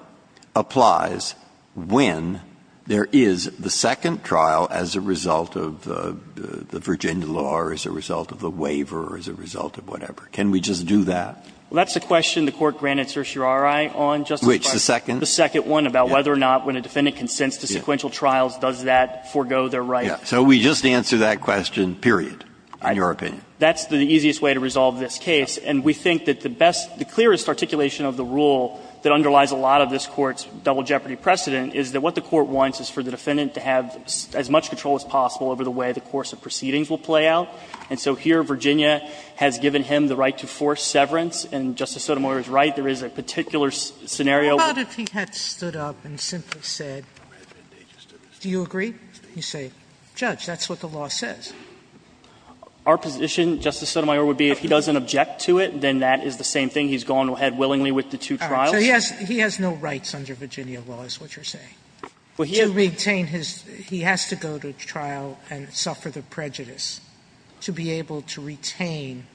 applies when there is the second trial as a result of the Virginia law or as a result of the waiver or as a result of whatever. Can we just do that? Well, that's the question the Court granted certiorari on, Justice Breyer. Which, the second? The second one about whether or not when a defendant consents to sequential trials, does that forego their right. Yes. So we just answer that question, period, in your opinion. That's the easiest way to resolve this case. And we think that the best, the clearest articulation of the rule that underlies a lot of this Court's double jeopardy precedent is that what the Court wants is for the defendant to have as much control as possible over the way the course of proceedings will play out. And so here Virginia has given him the right to force severance, and Justice Sotomayor is right, there is a particular scenario. How about if he had stood up and simply said, do you agree? You say, Judge, that's what the law says. Our position, Justice Sotomayor, would be if he doesn't object to it, then that is the same thing. He's gone ahead willingly with the two trials. Sotomayor, so he has no rights under Virginia law, is what you're saying? To retain his – he has to go to trial and suffer the prejudice to be able to retain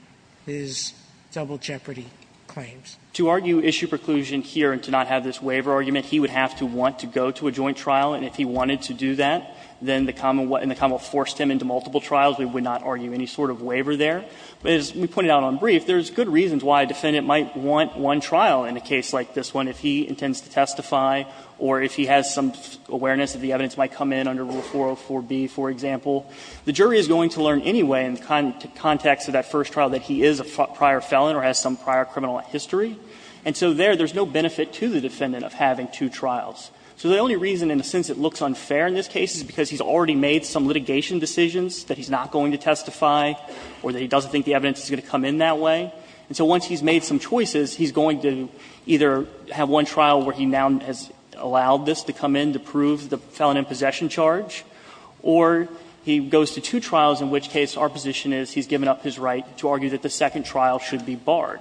his double jeopardy claims. To argue issue preclusion here and to not have this waiver argument, he would have to want to go to a joint trial. And if he wanted to do that, then the common law forced him into multiple trials. We would not argue any sort of waiver there. But as we pointed out on brief, there's good reasons why a defendant might want one trial in a case like this one. If he intends to testify or if he has some awareness that the evidence might come in under Rule 404b, for example, the jury is going to learn anyway in the context of that first trial that he is a prior felon or has some prior criminal history. And so there, there's no benefit to the defendant of having two trials. So the only reason, in a sense, it looks unfair in this case is because he's already made some litigation decisions that he's not going to testify or that he doesn't think the evidence is going to come in that way. And so once he's made some choices, he's going to either have one trial where he now has allowed this to come in to prove the felon in possession charge, or he goes to two trials, in which case our position is he's given up his right to argue that the second trial should be barred.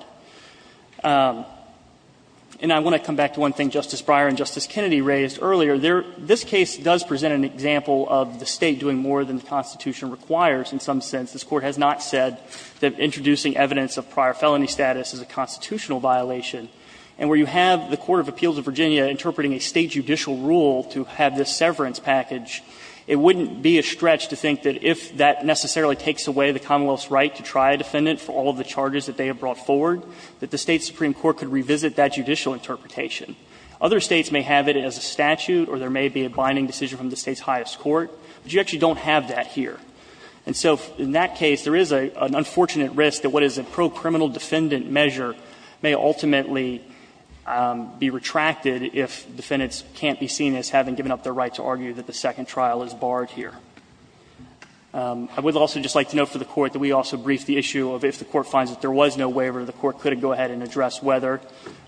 And I want to come back to one thing Justice Breyer and Justice Kennedy raised earlier. This case does present an example of the State doing more than the Constitution requires in some sense. This Court has not said that introducing evidence of prior felony status is a constitutional violation. And where you have the Court of Appeals of Virginia interpreting a State judicial rule to have this severance package, it wouldn't be a stretch to think that if that necessarily takes away the Commonwealth's right to try a defendant for all of the charges that they have brought forward, that the State supreme court could revisit that judicial interpretation. Other States may have it as a statute or there may be a binding decision from the State's highest court, but you actually don't have that here. And so in that case, there is an unfortunate risk that what is a pro-criminal defendant measure may ultimately be retracted if defendants can't be seen as having given up their right to argue that the second trial is barred here. I would also just like to note for the Court that we also briefed the issue of if the Court finds that there was no waiver, the Court could go ahead and address whether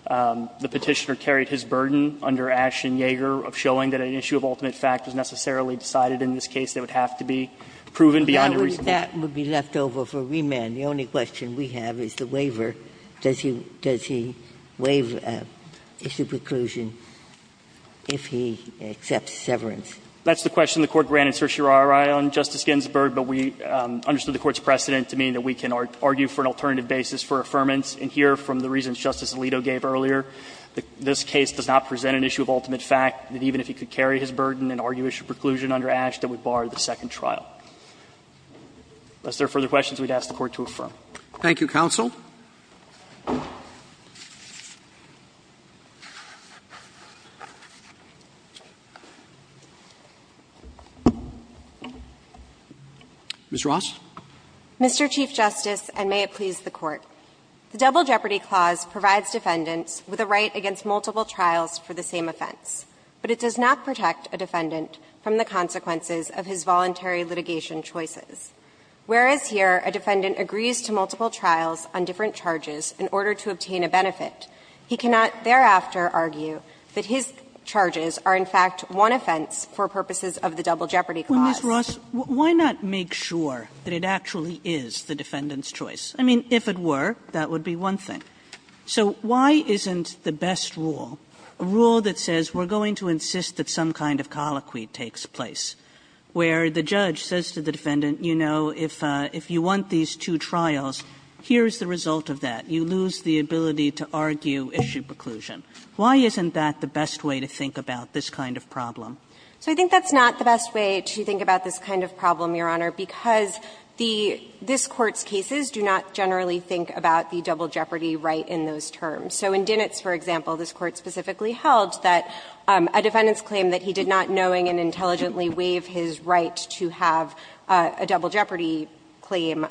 the Petitioner carried his burden under Ashton-Yager of showing that an issue of ultimate fact was necessarily decided in this case that would have to be proven beyond a reasonable doubt. Ginsburg. That would be left over for remand. The only question we have is the waiver. Does he waive issue preclusion if he accepts severance? That's the question the Court granted certiorari on, Justice Ginsburg, but we understood the Court's precedent to mean that we can argue for an alternative basis for affirmance. And that's why we didn't put an issue of ultimate fact that even if he could carry his burden and argue issue preclusion under Ashton, it would bar the second trial. Unless there are further questions, we would ask the Court to affirm. Thank you, counsel. Ms. Ross. Mr. Chief Justice, and may it please the Court. The Double Jeopardy Clause provides defendants with a right against multiple trials for the same offense, but it does not protect a defendant from the consequences of his voluntary litigation choices. Whereas here a defendant agrees to multiple trials on different charges in order to obtain a benefit, he cannot thereafter argue that his charges are, in fact, one offense for purposes of the Double Jeopardy Clause. Well, Ms. Ross, why not make sure that it actually is the defendant's choice? I mean, if it were, that would be one thing. So why isn't the best rule, a rule that says we're going to insist that some kind of colloquy takes place, where the judge says to the defendant, you know, if you want these two trials, here's the result of that. You lose the ability to argue issue preclusion. Why isn't that the best way to think about this kind of problem? So I think that's not the best way to think about this kind of problem, Your Honor, because the this Court's cases do not generally think about the double jeopardy right in those terms. So in Dinnitz, for example, this Court specifically held that a defendant's claim that he did not knowing and intelligently waive his right to have a double jeopardy claim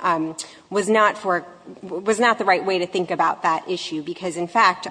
was not for the right way to think about that issue, because in fact,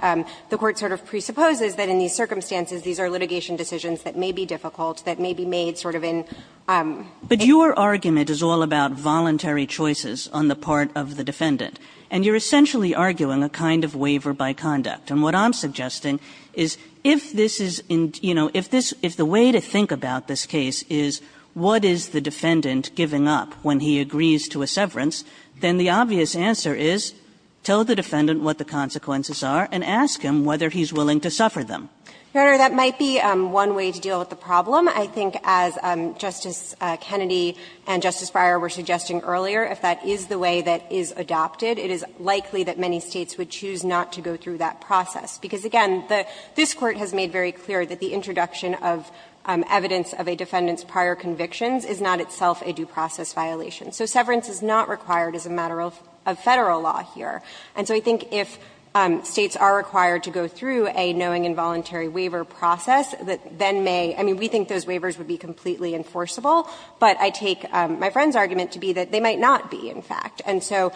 the Court sort of presupposes that in these circumstances these are litigation decisions that may be difficult, that may be made sort of in. Kagan But your argument is all about voluntary choices on the part of the defendant, and you're essentially arguing a kind of waiver by conduct. And what I'm suggesting is if this is, you know, if this the way to think about this case is what is the defendant giving up when he agrees to a severance, then the obvious answer is tell the defendant what the consequences are and ask him whether he's willing to suffer them. Your Honor, that might be one way to deal with the problem. I think as Justice Kennedy and Justice Breyer were suggesting earlier, if that is the way that is adopted, it is likely that many States would choose not to go through that process, because again, this Court has made very clear that the introduction of evidence of a defendant's prior convictions is not itself a due process violation. So severance is not required as a matter of Federal law here. And so I think if States are required to go through a knowing involuntary waiver process, that then may be we think those waivers would be completely enforceable, but I take my friend's argument to be that they might not be, in fact. And so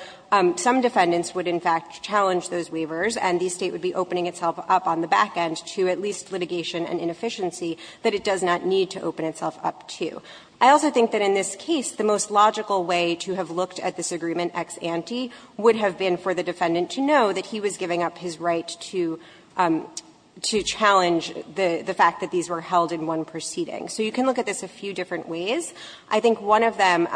some defendants would in fact challenge those waivers, and the State would be opening itself up on the back end to at least litigation and inefficiency that it does not need to open itself up to. I also think that in this case, the most logical way to have looked at this agreement as an ex ante would have been for the defendant to know that he was giving up his right to challenge the fact that these were held in one proceeding. So you can look at this a few different ways. I think one of them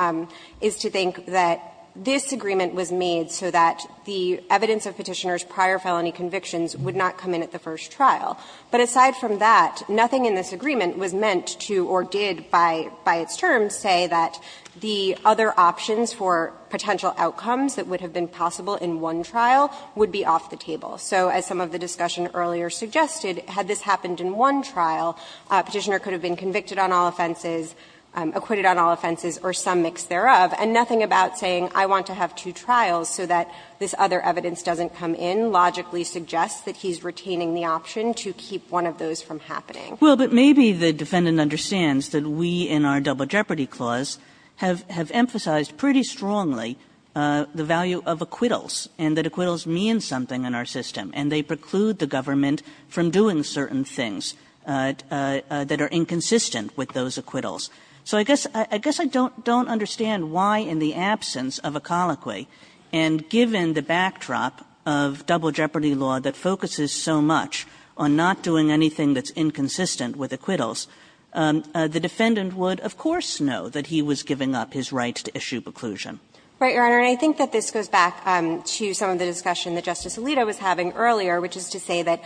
is to think that this agreement was made so that the evidence of Petitioner's prior felony convictions would not come in at the first trial. But aside from that, nothing in this agreement was meant to or did by its terms say that the other options for potential outcomes that would have been possible in one trial would be off the table. So as some of the discussion earlier suggested, had this happened in one trial, Petitioner could have been convicted on all offenses, acquitted on all offenses, or some mix thereof, and nothing about saying I want to have two trials so that this other evidence doesn't come in logically suggests that he's retaining the option to keep one of those from happening. Well, but maybe the defendant understands that we in our Double Jeopardy clause have emphasized pretty strongly the value of acquittals, and that acquittals mean something in our system, and they preclude the government from doing certain things that are inconsistent with those acquittals. So I guess I don't understand why in the absence of a colloquy, and given the backdrop of Double Jeopardy law that focuses so much on not doing anything that's inconsistent with acquittals, the defendant would of course know that he was giving up his right to issue preclusion. Right, Your Honor, and I think that this goes back to some of the discussion that Justice Alito was having earlier, which is to say that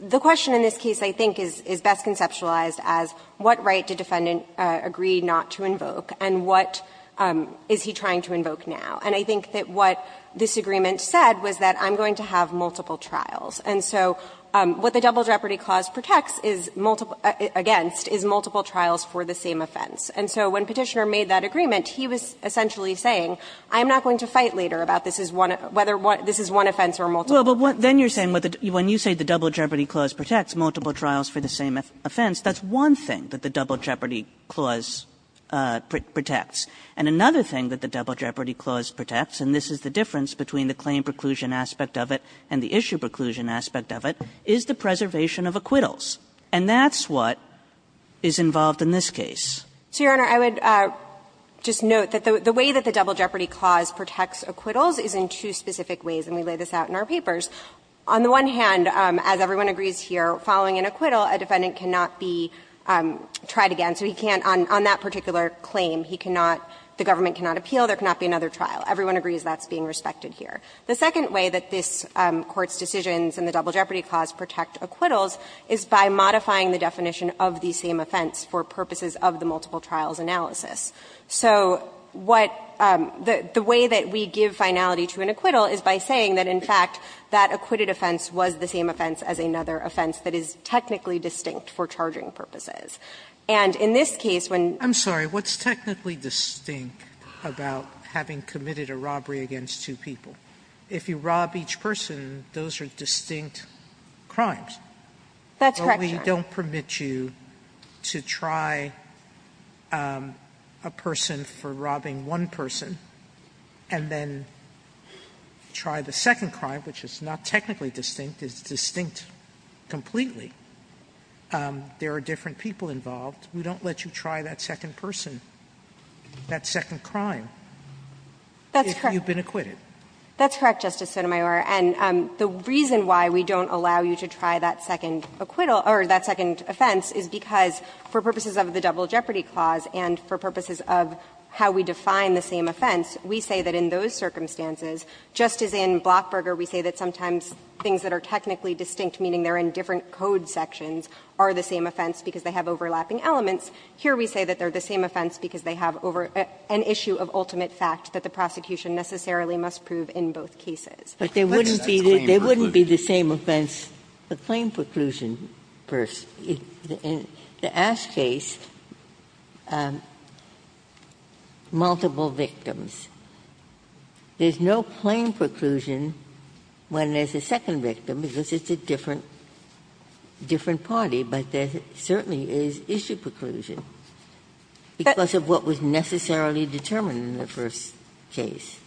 the question in this case, I think, is best conceptualized as what right did defendant agree not to invoke, and what is he trying to invoke now. And I think that what this agreement said was that I'm going to have multiple trials, and so what the Double Jeopardy clause protects is multiple – against is multiple trials for the same offense. And so when Petitioner made that agreement, he was essentially saying, I'm not going to fight later about this is one – whether this is one offense or multiple. Well, but then you're saying when you say the Double Jeopardy clause protects multiple trials for the same offense, that's one thing that the Double Jeopardy clause protects. And another thing that the Double Jeopardy clause protects, and this is the difference between the claim preclusion aspect of it and the issue preclusion aspect of it, is the preservation of acquittals. And that's what is involved in this case. So, Your Honor, I would just note that the way that the Double Jeopardy clause protects acquittals is in two specific ways, and we lay this out in our papers. On the one hand, as everyone agrees here, following an acquittal, a defendant cannot be tried again, so he can't – on that particular claim, he cannot – the government cannot appeal, there cannot be another trial. Everyone agrees that's being respected here. The second way that this Court's decisions in the Double Jeopardy clause protect acquittals is by modifying the definition of the same offense for purposes of the multiple trials analysis. So what – the way that we give finality to an acquittal is by saying that, in fact, that acquitted offense was the same offense as another offense that is technically distinct for charging purposes. And in this case, when – Sotomayor, I'm sorry. What's technically distinct about having committed a robbery against two people? If you rob each person, those are distinct crimes. That's correct, Your Honor. But we don't permit you to try a person for robbing one person and then try the second There are different people involved. We don't let you try that second person, that second crime, if you've been acquitted. That's correct, Justice Sotomayor. And the reason why we don't allow you to try that second acquittal or that second offense is because, for purposes of the Double Jeopardy clause and for purposes of how we define the same offense, we say that in those circumstances, just as in Blockburger, we say that sometimes things that are technically distinct, meaning they're in different code sections, are the same offense because they have overlapping elements. Here, we say that they're the same offense because they have an issue of ultimate fact that the prosecution necessarily must prove in both cases. But there wouldn't be the same offense, the claim preclusion, in the Ass case, multiple victims. There's no claim preclusion when there's a second victim because it's a different party, but there certainly is issue preclusion because of what was necessarily determined in the first case.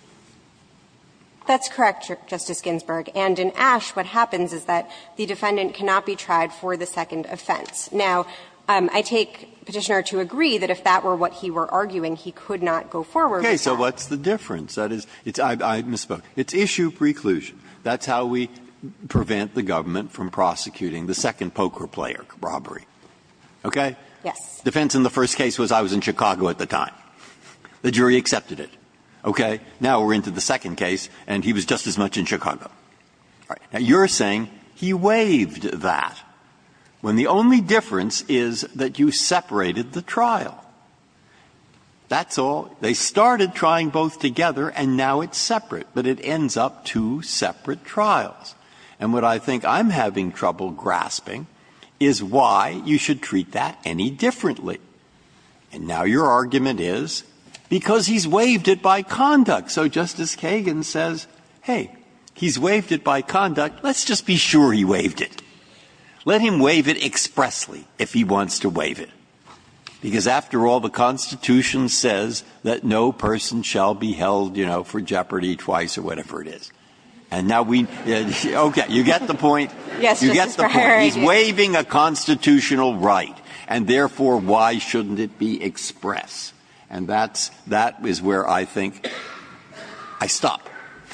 That's correct, Justice Ginsburg. And in Ashe, what happens is that the defendant cannot be tried for the second offense. Now, I take Petitioner to agree that if that were what he were arguing, he could not go forward with that. So what's the difference? That is, I misspoke. It's issue preclusion. That's how we prevent the government from prosecuting the second poker player robbery. Okay? Yes. Defense in the first case was I was in Chicago at the time. The jury accepted it. Okay? Now we're into the second case, and he was just as much in Chicago. All right. Now, you're saying he waived that when the only difference is that you separated the trial. That's all. They started trying both together, and now it's separate, but it ends up two separate trials. And what I think I'm having trouble grasping is why you should treat that any differently. And now your argument is because he's waived it by conduct. So Justice Kagan says, hey, he's waived it by conduct. Let's just be sure he waived it. Let him waive it expressly if he wants to waive it. Because after all, the Constitution says that no person shall be held, you know, for jeopardy twice or whatever it is. And now we see, okay, you get the point. You get the point. He's waiving a constitutional right, and therefore, why shouldn't it be express? And that's where I think I stop,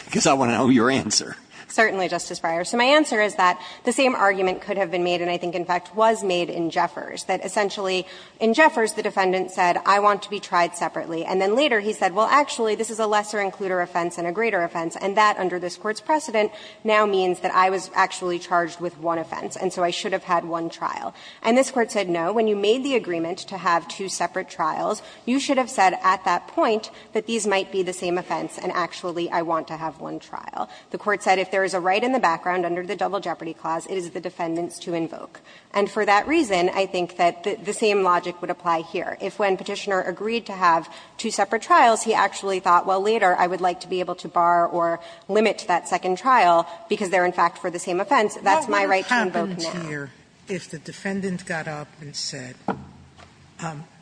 because I want to know your answer. Certainly, Justice Breyer. So my answer is that the same argument could have been made, and I think in fact was made in Jeffers, that essentially in Jeffers, the defendant said, I want to be tried separately. And then later he said, well, actually, this is a lesser-includer offense and a greater offense, and that, under this Court's precedent, now means that I was actually charged with one offense, and so I should have had one trial. And this Court said, no, when you made the agreement to have two separate trials, you should have said at that point that these might be the same offense, and actually I want to have one trial. The Court said if there is a right in the background under the double jeopardy clause, it is the defendant's to invoke. And for that reason, I think that the same logic would apply here. If when Petitioner agreed to have two separate trials, he actually thought, well, later I would like to be able to bar or limit that second trial, because they're in fact for the same offense, that's my right to invoke law. Sotomayor, if the defendant got up and said,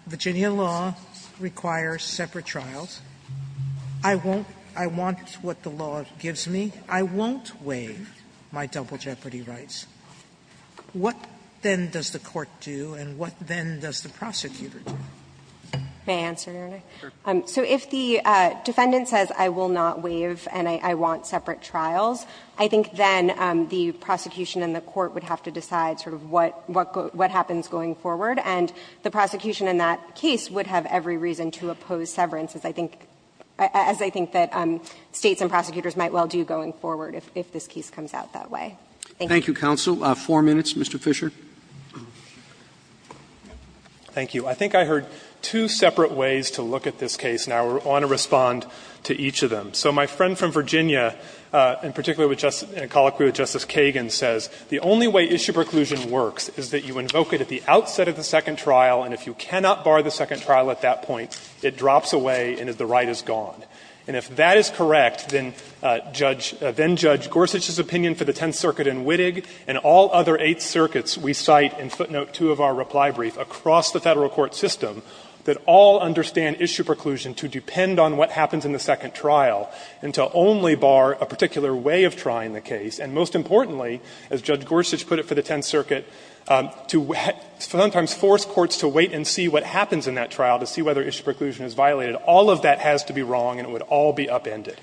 Virginia law requires separate trials, I won't – I want what the law gives me, I won't waive my double jeopardy rights, what then does the Court do and what then does the prosecutor do? May I answer, Your Honor? So if the defendant says, I will not waive and I want separate trials, I think then the prosecution and the court would have to decide sort of what happens going forward, and the prosecution in that case would have every reason to oppose severance, as I think that States and prosecutors might well do going forward if this case comes out that way. Thank you, counsel. Four minutes, Mr. Fisher. Fisher, thank you. I think I heard two separate ways to look at this case. Now I want to respond to each of them. So my friend from Virginia, in particular with Justice – in colloquy with Justice Kagan, says the only way issue preclusion works is that you invoke it at the outset of the second trial, and if you cannot bar the second trial at that point, it drops away and the right is gone. And if that is correct, then Judge Gorsuch's opinion for the Tenth Circuit and Wittig and all other Eighth Circuits we cite in footnote 2 of our reply brief across the Federal court system that all understand issue preclusion to depend on what happens in the second trial and to only bar a particular way of trying the case. And most importantly, as Judge Gorsuch put it for the Tenth Circuit, to sometimes force courts to wait and see what happens in that trial to see whether issue preclusion is violated. All of that has to be wrong and it would all be upended.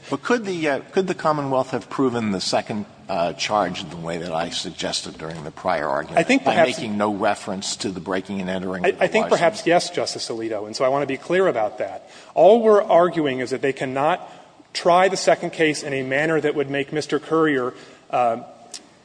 Alito, and so I want to be clear about that. All we're arguing is that they cannot try the second case in a manner that would make Mr. Currier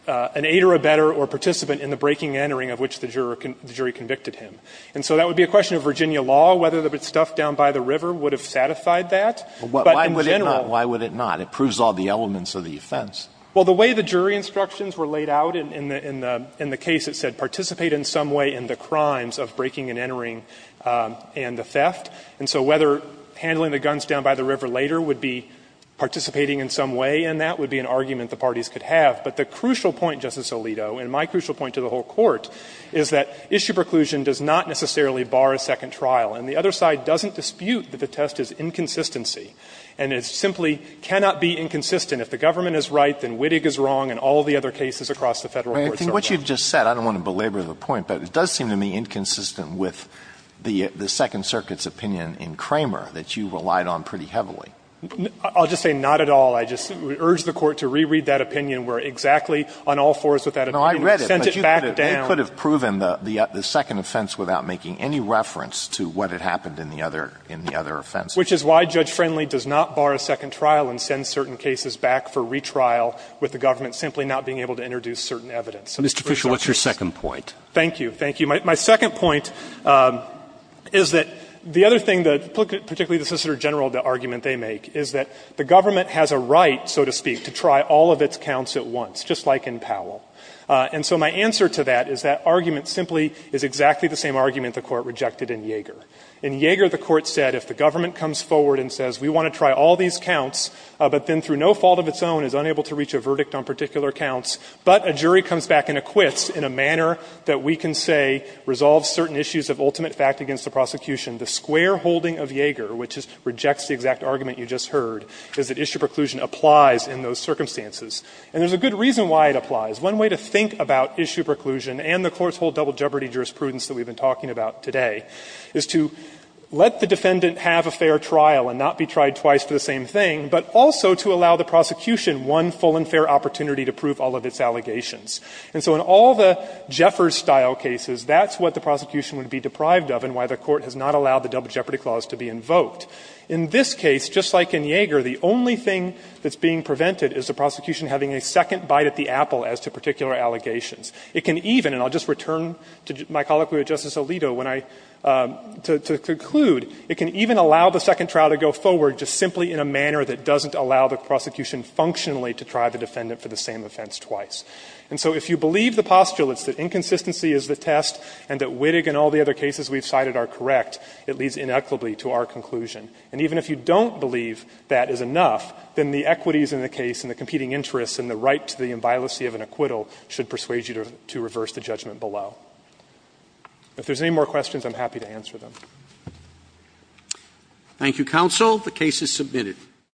an aider, a better, or participant in the breaking and entering of which the jury convicted him. And so that would be a question of Virginia law, whether the stuff down by the river would have satisfied that. Alito, why would it not? It proves all the elements of the offense. Well, the way the jury instructions were laid out in the case, it said participate in some way in the crimes of breaking and entering and the theft. And so whether handling the guns down by the river later would be participating in some way, and that would be an argument the parties could have. But the crucial point, Justice Alito, and my crucial point to the whole Court, is that issue preclusion does not necessarily bar a second trial. And the other side doesn't dispute that the test is inconsistency, and it simply cannot be inconsistent. If the government is right, then Wittig is wrong and all the other cases across the Federal courts are right. But I think what you've just said, I don't want to belabor the point, but it does seem to me inconsistent with the Second Circuit's opinion in Kramer that you relied on pretty heavily. I'll just say not at all. I just urge the Court to reread that opinion where exactly on all fours with that opinion. No, I read it. Sent it back down. Alito, they could have proven the second offense without making any reference to what had happened in the other offense. Which is why Judge Friendly does not bar a second trial and send certain cases back for retrial with the government simply not being able to introduce certain evidence. Mr. Fisher, what's your second point? Thank you. Thank you. My second point is that the other thing that, particularly the Solicitor General, the argument they make is that the government has a right, so to speak, to try all of its counts at once, just like in Powell. And so my answer to that is that argument simply is exactly the same argument the Court rejected in Yeager. In Yeager, the Court said if the government comes forward and says we want to try all these counts, but then through no fault of its own is unable to reach a verdict on particular counts, but a jury comes back and acquits in a manner that we can say resolves certain issues of ultimate fact against the prosecution, the squareholding of Yeager, which rejects the exact argument you just heard, is that issue preclusion applies in those circumstances. And there's a good reason why it applies. One way to think about issue preclusion and the Court's whole double jeopardy jurisprudence that we've been talking about today is to let the defendant have a fair trial and not be tried twice for the same thing, but also to allow the prosecution one full and fair opportunity to prove all of its allegations. And so in all the Jeffers-style cases, that's what the prosecution would be deprived of and why the Court has not allowed the double jeopardy clause to be invoked. In this case, just like in Yeager, the only thing that's being prevented is the prosecution having a second bite at the apple as to particular allegations. It can even, and I'll just return to my colloquy with Justice Alito when I, to conclude, it can even allow the second trial to go forward just simply in a manner that doesn't allow the prosecution functionally to try the defendant for the same offense twice. And so if you believe the postulates that inconsistency is the test and that Wittig and all the other cases we've cited are correct, it leads inequitably to our conclusion. And even if you don't believe that is enough, then the equities in the case and the competing interests and the right to the inviolacy of an acquittal should persuade you to reverse the judgment below. If there's any more questions, I'm happy to answer them. Roberts. Thank you, counsel. The case is submitted.